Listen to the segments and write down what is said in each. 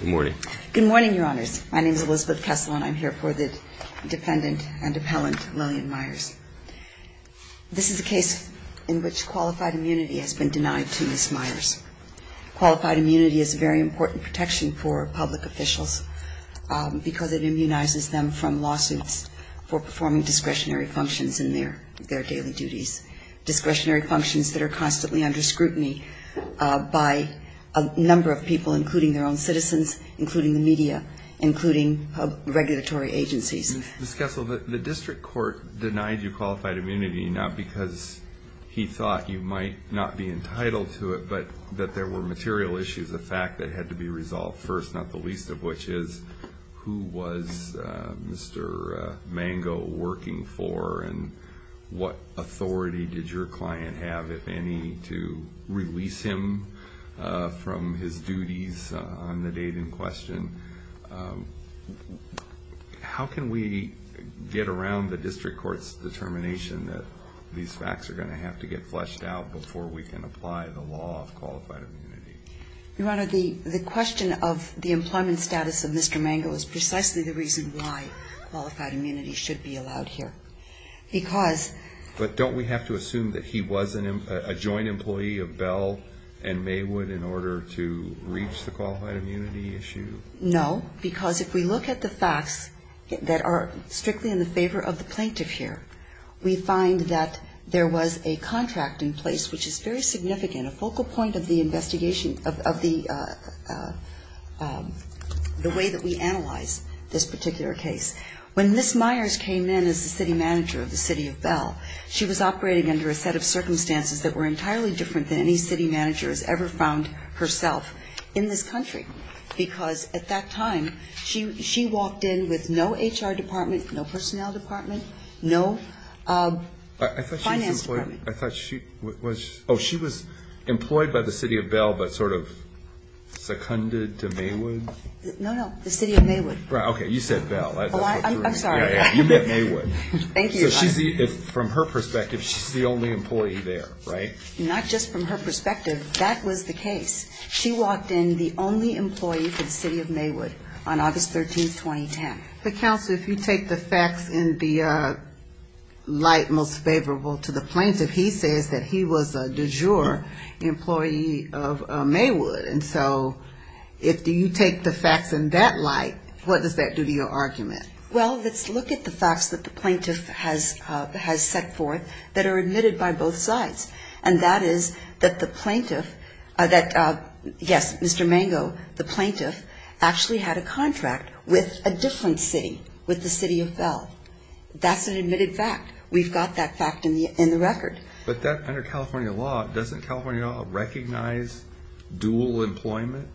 Good morning. Good morning, Your Honors. My name is Elizabeth Kessler, and I'm here for the defendant and appellant Lilian Myers. This is a case in which qualified immunity has been denied to Ms. Myers. Qualified immunity is a very important protection for public officials because it immunizes them from lawsuits for performing discretionary functions in their daily duties, discretionary functions that are constantly under scrutiny by a number of people, including their own citizens, including the media, including regulatory agencies. Ms. Kessler, the district court denied you qualified immunity not because he thought you might not be entitled to it, but that there were material issues of fact that had to be resolved first, not the least of which is who was Mr. Mango working for and what authority did your client have, if any, to release him from his duties on the date in question. How can we get around the district court's determination that these facts are going to have to get fleshed out before we can apply the law of qualified immunity? Your Honor, the question of the employment status of Mr. Mango is precisely the reason why qualified immunity should be allowed here. But don't we have to assume that he was a joint employee of Bell and Maywood in order to reach the qualified immunity issue? No, because if we look at the facts that are strictly in the favor of the plaintiff here, we find that there was a contract in place which is very significant, a focal point of the investigation of the way that we analyze this particular case. When Ms. Myers came in as the city manager of the city of Bell, she was operating under a set of circumstances that were entirely different than any city manager has ever found herself in this country, because at that time she walked in with no HR department, no personnel department, no finance department. I thought she was employed by the city of Bell but sort of seconded to Maywood? No, no, the city of Maywood. Okay, you said Bell. I'm sorry. You meant Maywood. Thank you, Your Honor. So from her perspective, she's the only employee there, right? Not just from her perspective. That was the case. She walked in the only employee for the city of Maywood on August 13, 2010. Counsel, if you take the facts in the light most favorable to the plaintiff, he says that he was a du jour employee of Maywood. And so if you take the facts in that light, what does that do to your argument? Well, let's look at the facts that the plaintiff has set forth that are admitted by both sides, and that is that the plaintiff, that, yes, Mr. Mango, the plaintiff, actually had a contract with a different city, with the city of Bell. That's an admitted fact. We've got that fact in the record. But under California law, doesn't California law recognize dual employment?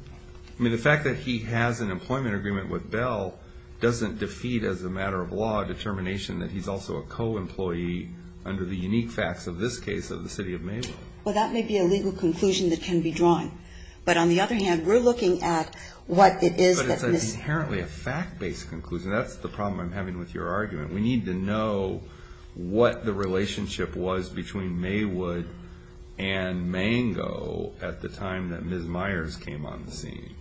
I mean, the fact that he has an employment agreement with Bell doesn't defeat as a matter of law determination that he's also a co-employee under the unique facts of this case of the city of Maywood. Well, that may be a legal conclusion that can be drawn. But on the other hand, we're looking at what it is that Ms. But it's inherently a fact-based conclusion. That's the problem I'm having with your argument. We need to know what the relationship was between Maywood and Mango at the time that Ms. Myers came on the scene.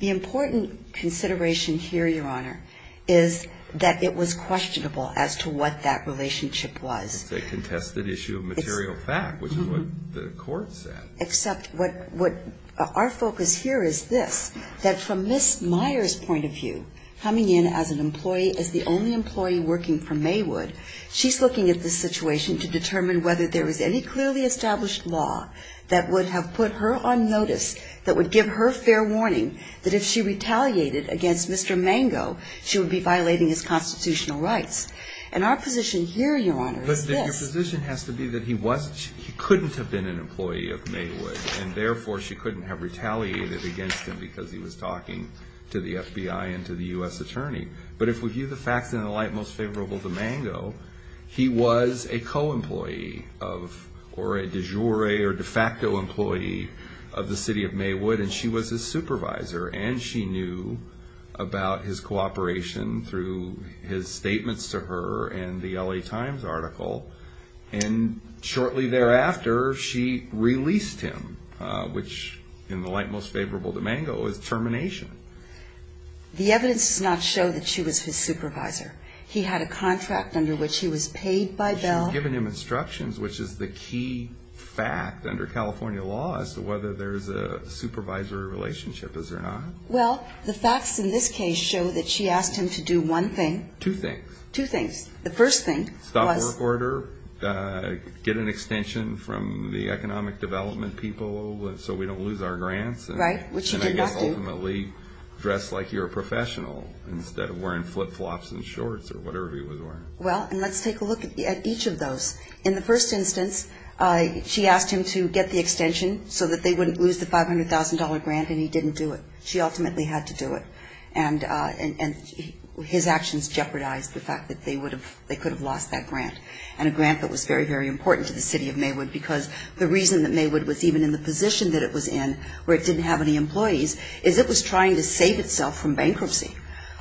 The important consideration here, Your Honor, is that it was questionable as to what that relationship was. It's a contested issue of material fact, which is what the court said. Except what our focus here is this, that from Ms. Myers' point of view, coming in as an employee, as the only employee working for Maywood, she's looking at this situation to determine whether there is any clearly that if she retaliated against Mr. Mango, she would be violating his constitutional rights. And our position here, Your Honor, is this. But your position has to be that he couldn't have been an employee of Maywood, and therefore she couldn't have retaliated against him because he was talking to the FBI and to the U.S. attorney. But if we view the facts in the light most favorable to Mango, he was a co-employee of or a de jure or de facto employee of the city of Maywood, and she was his supervisor. And she knew about his cooperation through his statements to her and the L.A. Times article. And shortly thereafter, she released him, which in the light most favorable to Mango is termination. The evidence does not show that she was his supervisor. He had a contract under which he was paid by bail. And she had given him instructions, which is the key fact under California law, as to whether there's a supervisory relationship, is there not? Well, the facts in this case show that she asked him to do one thing. Two things. Two things. The first thing was? Stop the work order, get an extension from the economic development people so we don't lose our grants. Right, which he did not do. And I guess ultimately dress like you're a professional instead of wearing flip-flops and shorts or whatever he was wearing. Well, and let's take a look at each of those. In the first instance, she asked him to get the extension so that they wouldn't lose the $500,000 grant, and he didn't do it. She ultimately had to do it. And his actions jeopardized the fact that they could have lost that grant, and a grant that was very, very important to the city of Maywood, because the reason that Maywood was even in the position that it was in, where it didn't have any employees, is it was trying to save itself from bankruptcy.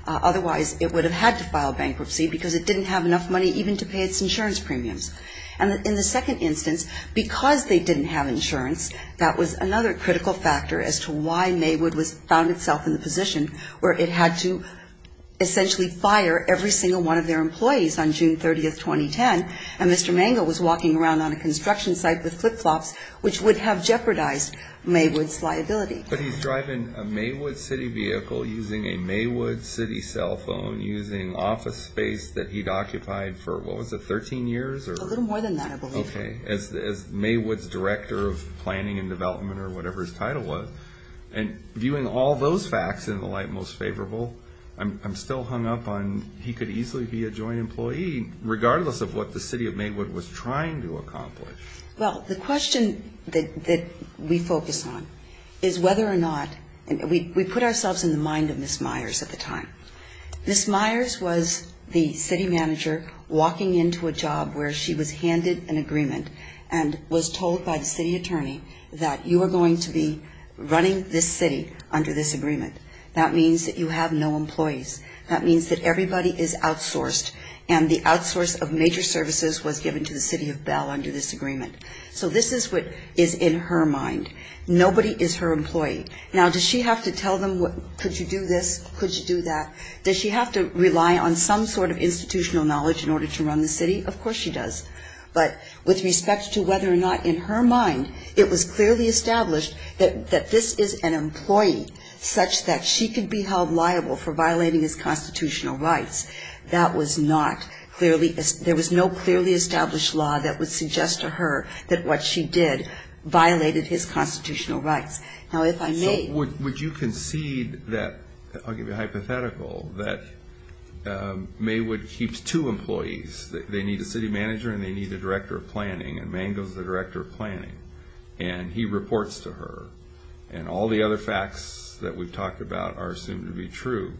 Otherwise, it would have had to file bankruptcy because it didn't have enough money even to pay its insurance premiums. And in the second instance, because they didn't have insurance, that was another critical factor as to why Maywood found itself in the position where it had to essentially fire every single one of their employees on June 30th, 2010, and Mr. Mangle was walking around on a construction site with flip-flops, which would have jeopardized Maywood's liability. But he's driving a Maywood City vehicle, using a Maywood City cell phone, using office space that he'd occupied for, what was it, 13 years? A little more than that, I believe. Okay. As Maywood's director of planning and development, or whatever his title was. And viewing all those facts in the light most favorable, I'm still hung up on he could easily be a joint employee, regardless of what the city of Maywood was trying to accomplish. Well, the question that we focus on is whether or not, we put ourselves in the mind of Ms. Myers at the time. Ms. Myers was the city manager walking into a job where she was handed an agreement and was told by the city attorney that you are going to be running this city under this agreement. That means that you have no employees. That means that everybody is outsourced, and the outsource of major services was given to the city of Bell under this agreement. So this is what is in her mind. Nobody is her employee. Now, does she have to tell them, could you do this, could you do that? Does she have to rely on some sort of institutional knowledge in order to run the city? Of course she does. But with respect to whether or not, in her mind, it was clearly established that this is an employee such that she could be held liable for violating his constitutional rights. That was not clearly, there was no clearly established law that would suggest to her that what she did violated his constitutional rights. Now, if I may. So would you concede that, I'll give you a hypothetical, that Maywood keeps two employees. They need a city manager and they need a director of planning, and Mangos is the director of planning. And he reports to her. And all the other facts that we've talked about are assumed to be true.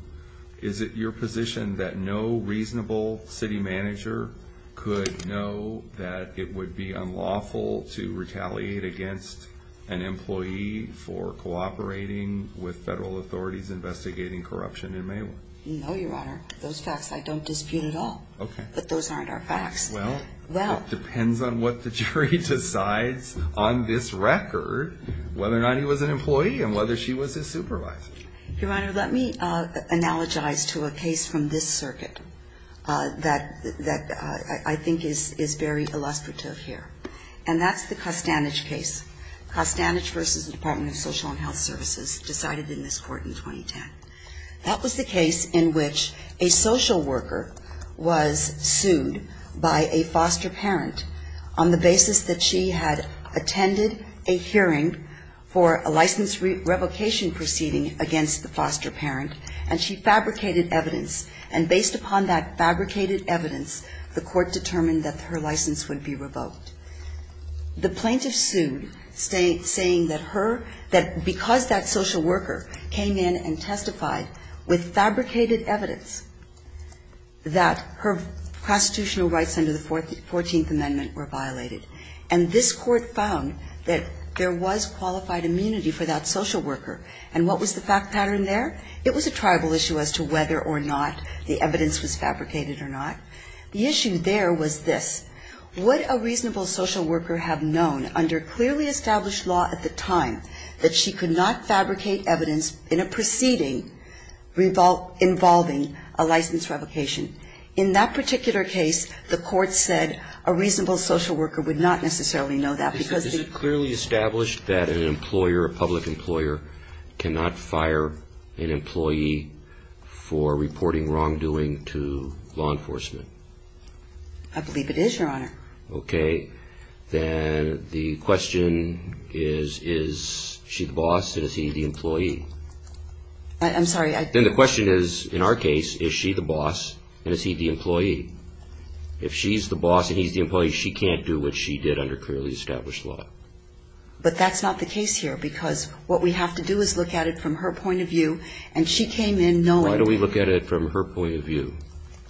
Is it your position that no reasonable city manager could know that it would be unlawful to retaliate against an employee for cooperating with federal authorities investigating corruption in Maywood? No, Your Honor. Those facts I don't dispute at all. Okay. But those aren't our facts. Well, it depends on what the jury decides on this record, whether or not he was an employee and whether she was his supervisor. Your Honor, let me analogize to a case from this circuit that I think is very illustrative here. And that's the Costanich case. Costanich v. Department of Social and Health Services decided in this court in 2010. That was the case in which a social worker was sued by a foster parent on the basis that she had attended a hearing for a license revocation proceeding against the foster parent. And she fabricated evidence. And based upon that fabricated evidence, the court determined that her license would be revoked. The plaintiff sued, saying that her – that because that social worker came in and testified with fabricated evidence that her constitutional rights under the Fourteenth Amendment were violated. And this Court found that there was qualified immunity for that social worker. And what was the fact pattern there? It was a tribal issue as to whether or not the evidence was fabricated or not. The issue there was this. Would a reasonable social worker have known under clearly established law at the time that she could not fabricate evidence in a proceeding involving a license revocation? In that particular case, the court said a reasonable social worker would not necessarily know that because the – I believe it is, Your Honor. Okay. Then the question is, is she the boss and is he the employee? I'm sorry, I – Then the question is, in our case, is she the boss and is he the employee? If she's the boss and he's the employee, she can't do what she did under clearly established law. But that's not the case here because what we have to do is look at it from her point of view. And she came in knowing – Why don't we look at it from her point of view?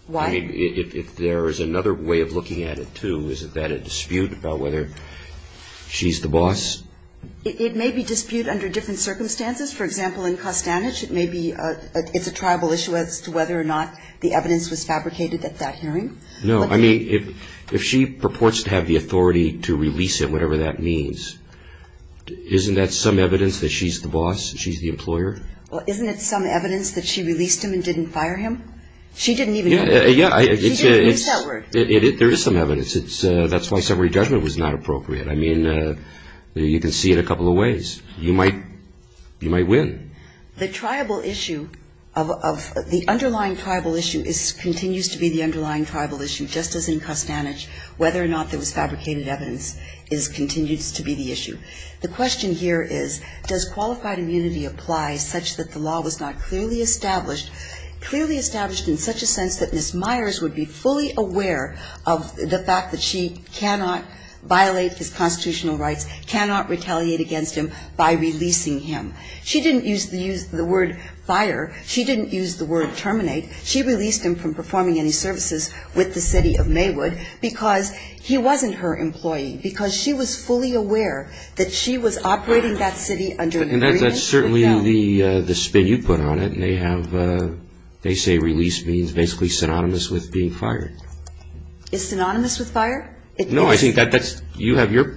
Why? I mean, if there is another way of looking at it, too, is that a dispute about whether she's the boss? It may be dispute under different circumstances. For example, in Costanich, it may be – it's a tribal issue as to whether or not the evidence was fabricated at that hearing. No. I mean, if she purports to have the authority to release him, whatever that means, isn't that some evidence that she's the boss, she's the employer? Well, isn't it some evidence that she released him and didn't fire him? She didn't even – she didn't use that word. There is some evidence. That's why summary judgment was not appropriate. I mean, you can see it a couple of ways. You might win. The tribal issue of – the underlying tribal issue continues to be the underlying tribal issue, just as in Costanich, whether or not there was fabricated evidence continues to be the issue. The question here is, does qualified immunity apply such that the law was not clearly established? Clearly established in such a sense that Ms. Myers would be fully aware of the fact that she cannot violate his constitutional rights, cannot retaliate against him by releasing him. She didn't use the word fire. She didn't use the word terminate. She released him from performing any services with the city of Maywood because he wasn't her employee, because she was fully aware that she was operating that city under the agreement. And that's certainly the spin you put on it. And they have – they say release means basically synonymous with being fired. Is synonymous with fire? No, I think that's – you have your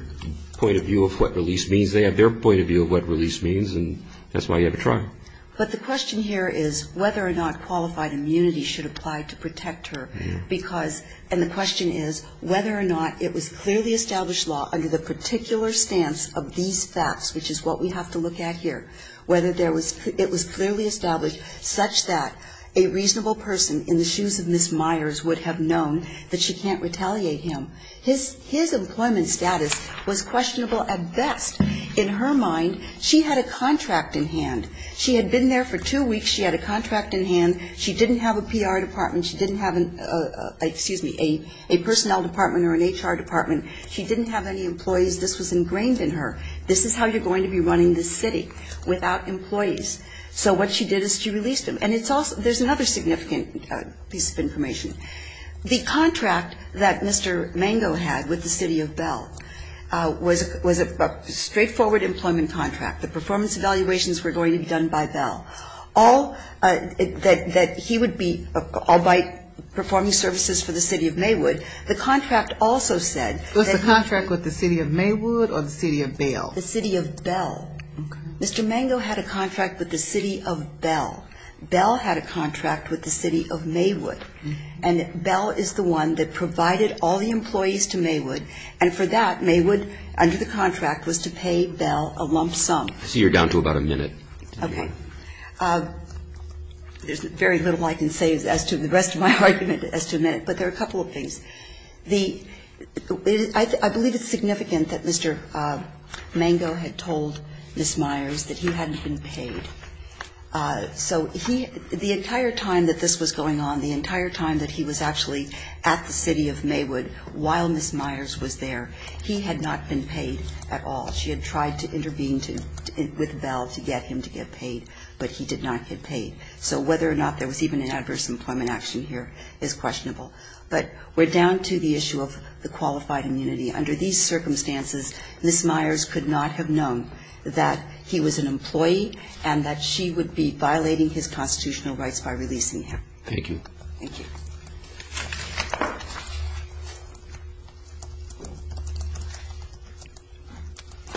point of view of what release means. They have their point of view of what release means. And that's why you have a trial. But the question here is whether or not qualified immunity should apply to protect her because – and the question is whether or not it was clearly established law under the particular stance of these facts, which is what we have to look at here, whether there was – it was clearly established such that a reasonable person in the shoes of Ms. Myers would have known that she can't retaliate him. His employment status was questionable at best. In her mind, she had a contract in hand. She had been there for two weeks. She had a contract in hand. She didn't have a PR department. She didn't have an – excuse me, a personnel department or an HR department. She didn't have any employees. This was ingrained in her. This is how you're going to be running this city, without employees. So what she did is she released him. And it's also – there's another significant piece of information. The contract that Mr. Mango had with the city of Bell was a straightforward employment contract. The performance evaluations were going to be done by Bell. All – that he would be – all by performing services for the city of Maywood. The contract also said that he – The city of Bell. Okay. Mr. Mango had a contract with the city of Bell. Bell had a contract with the city of Maywood. And Bell is the one that provided all the employees to Maywood. And for that, Maywood, under the contract, was to pay Bell a lump sum. So you're down to about a minute. Okay. There's very little I can say as to the rest of my argument as to a minute. But there are a couple of things. The – I believe it's significant that Mr. Mango had told Ms. Myers that he hadn't been paid. So he – the entire time that this was going on, the entire time that he was actually at the city of Maywood while Ms. Myers was there, he had not been paid at all. She had tried to intervene with Bell to get him to get paid, but he did not get paid. So whether or not there was even an adverse employment action here is questionable. But we're down to the issue of the qualified immunity. Under these circumstances, Ms. Myers could not have known that he was an employee and that she would be violating his constitutional rights by releasing him. Thank you. Thank you.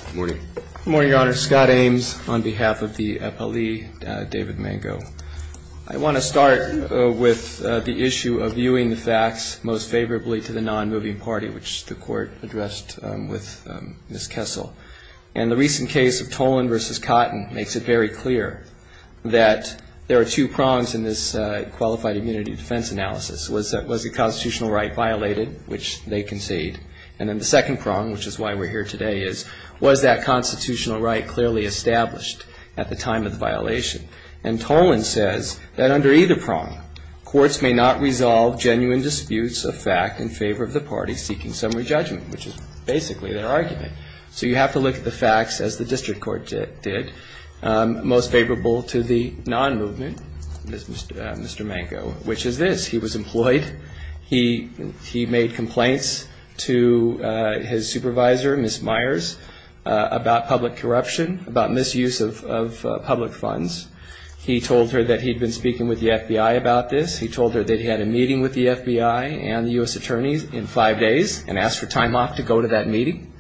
Good morning. Good morning, Your Honor. Scott Ames on behalf of the appellee, David Mango. I want to start with the issue of viewing the facts most favorably to the nonmoving party, which the Court addressed with Ms. Kessel. And the recent case of Toland v. Cotton makes it very clear that there are two prongs in this qualified immunity defense analysis. Was the constitutional right violated, which they conceded? And then the second prong, which is why we're here today, is was that constitutional right clearly established at the time of the violation? And Toland says that under either prong, courts may not resolve genuine disputes of fact in favor of the party seeking summary judgment, which is basically their argument. So you have to look at the facts, as the district court did, most favorable to the nonmovement, Mr. Mango, which is this, he was employed, he made complaints to his supervisor, Ms. Myers, about public corruption, about misuse of public funds. He told her that he'd been speaking with the FBI about this. He told her that he had a meeting with the FBI and the U.S. attorneys in five days and asked for time off to go to that meeting.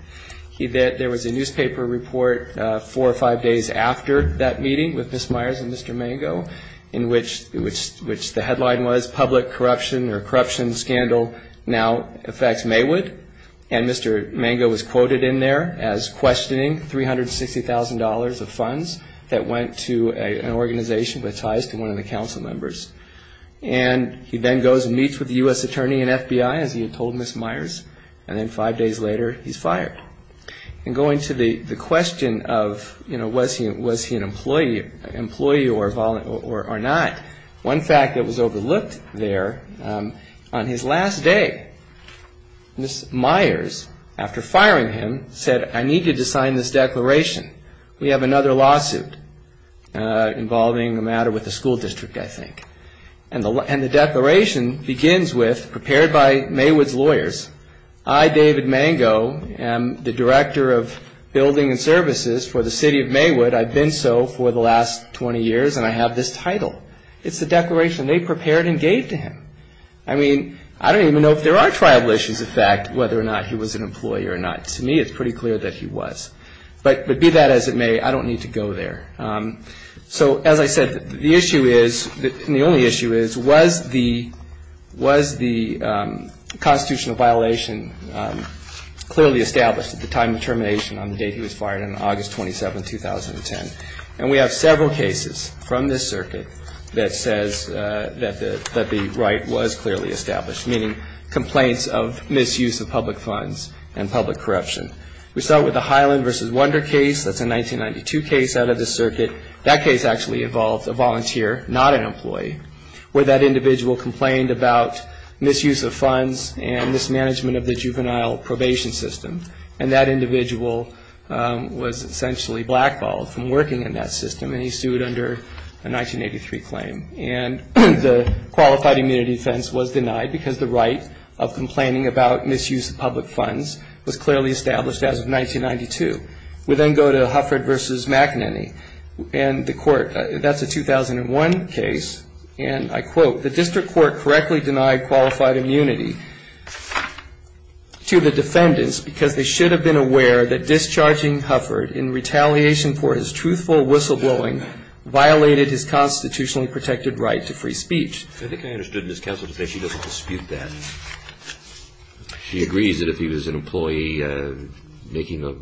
There was a newspaper report four or five days after that meeting with Ms. Myers and Mr. Mango, in which the headline was public corruption or corruption scandal now affects Maywood. And Mr. Mango was quoted in there as questioning $360,000 of funds that went to an organization with ties to one of the council members. And he then goes and meets with the U.S. attorney and FBI, as he had told Ms. Myers, and then five days later he's fired. And going to the question of, you know, was he an employee or not, one fact that was overlooked there, on his last day, Ms. Myers, after firing him, said I need you to sign this declaration. We have another lawsuit involving a matter with the school district, I think. And the declaration begins with, prepared by Maywood's lawyers, I, David Mango, am the director of building and services for the city of Maywood. I've been so for the last 20 years, and I have this title. It's the declaration they prepared and gave to him. I mean, I don't even know if there are tribal issues, in fact, whether or not he was an employee or not. To me, it's pretty clear that he was. But be that as it may, I don't need to go there. So, as I said, the issue is, and the only issue is, was the constitutional violation clearly established at the time of termination on the date he was fired on August 27, 2010? And we have several cases from this circuit that says that the right was clearly established, meaning complaints of misuse of public funds and public corruption. We start with the Highland v. Wonder case. That's a 1992 case out of the circuit. That case actually involved a volunteer, not an employee, where that individual complained about misuse of funds and mismanagement of the juvenile probation system. And that individual was essentially blackballed from working in that system, and he sued under a 1983 claim. And the qualified immunity defense was denied because the right of complaining about misuse of public funds was clearly established as of 1992. We then go to Hufford v. McEnany. And the court, that's a 2001 case, and I quote, the district court correctly denied qualified immunity to the defendants because they should have been aware that discharging Hufford in retaliation for his truthful whistleblowing violated his constitutionally protected right to free speech. I think I understood Ms. Kessler to say she doesn't dispute that. She agrees that if he was an employee making a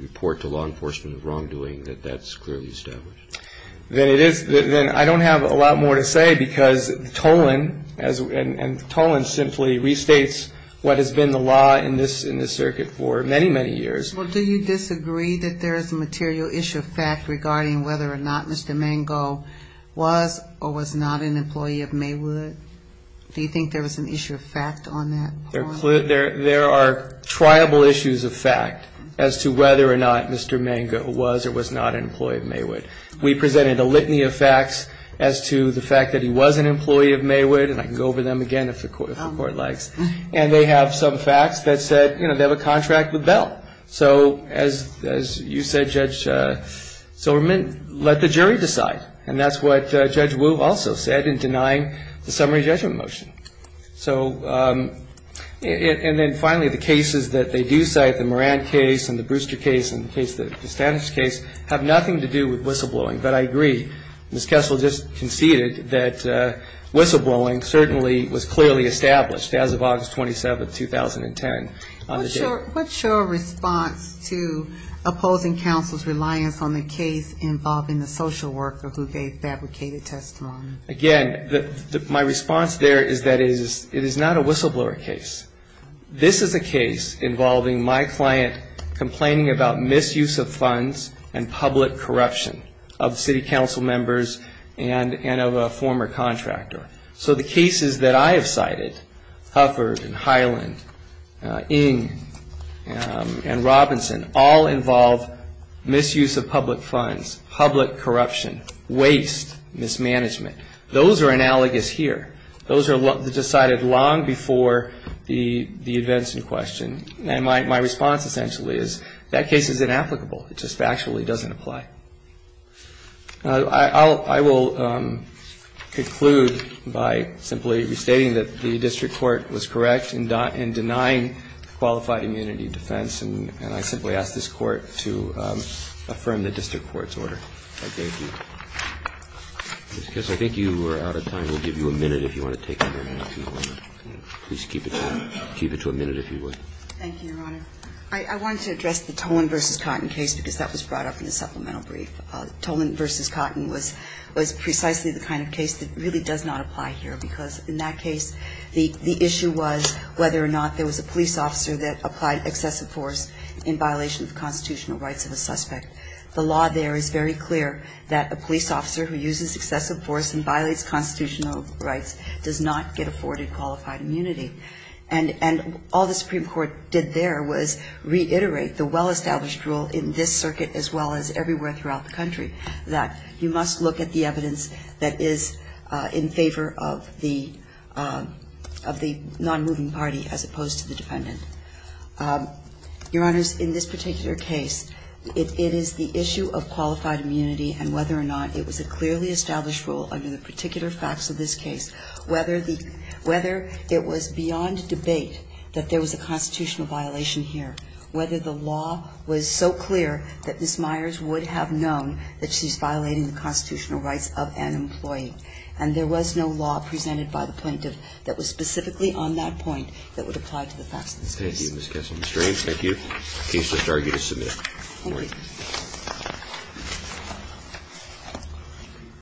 report to law enforcement of wrongdoing, that that's clearly established. Then I don't have a lot more to say because Toland simply restates what has been the law in this circuit for many, many years. Well, do you disagree that there is a material issue of fact regarding whether or not Mr. Mango was or was not an employee of Maywood? Do you think there was an issue of fact on that point? There are triable issues of fact as to whether or not Mr. Mango was or was not an employee of Maywood. We presented a litany of facts as to the fact that he was an employee of Maywood, and I can go over them again if the court likes. And they have some facts that said, you know, they have a contract with Bell. So as you said, Judge Silverman, let the jury decide. And that's what Judge Wu also said in denying the summary judgment motion. So and then finally, the cases that they do cite, the Moran case and the Brewster case and the Cassandras case, have nothing to do with whistleblowing. But I agree. Ms. Kessler just conceded that whistleblowing certainly was clearly established as of August 27, 2010. What's your response to opposing counsel's reliance on the case involving the social worker who they fabricated testimony? Again, my response there is that it is not a whistleblower case. This is a case involving my client complaining about misuse of funds and public corruption of city council members and of a former contractor. So the cases that I have cited, Hufford and Highland, Ng and Robinson, all involve misuse of public funds, public corruption, waste, mismanagement. Those are analogous here. Those are decided long before the events in question. And my response essentially is that case is inapplicable. It just factually doesn't apply. I will conclude by simply restating that the district court was correct in denying qualified immunity defense. And I simply ask this Court to affirm the district court's order. Thank you. Ms. Kessler, I think you are out of time. We'll give you a minute if you want to take another question. Please keep it to a minute if you would. Thank you, Your Honor. I wanted to address the Tolan v. Cotton case because that was brought up in the supplemental brief. Tolan v. Cotton was precisely the kind of case that really does not apply here because in that case the issue was whether or not there was a police officer that applied excessive force in violation of the constitutional rights of a suspect. The law there is very clear that a police officer who uses excessive force and violates constitutional rights does not get afforded qualified immunity. And all the Supreme Court did there was reiterate the well-established rule in this circuit as well as everywhere throughout the country, that you must look at the evidence that is in favor of the nonmoving party as opposed to the dependent. Your Honors, in this particular case, it is the issue of qualified immunity and whether or not it was a clearly established rule under the particular facts of this case, whether the – whether it was beyond debate that there was a constitutional violation here, whether the law was so clear that Ms. Myers would have known that she's violating the constitutional rights of an employee. And there was no law presented by the plaintiff that was specifically on that point that would apply to the facts of this case. Thank you, Ms. Kessler. Mr. Haines, thank you. The case is now for you to submit. Thank you.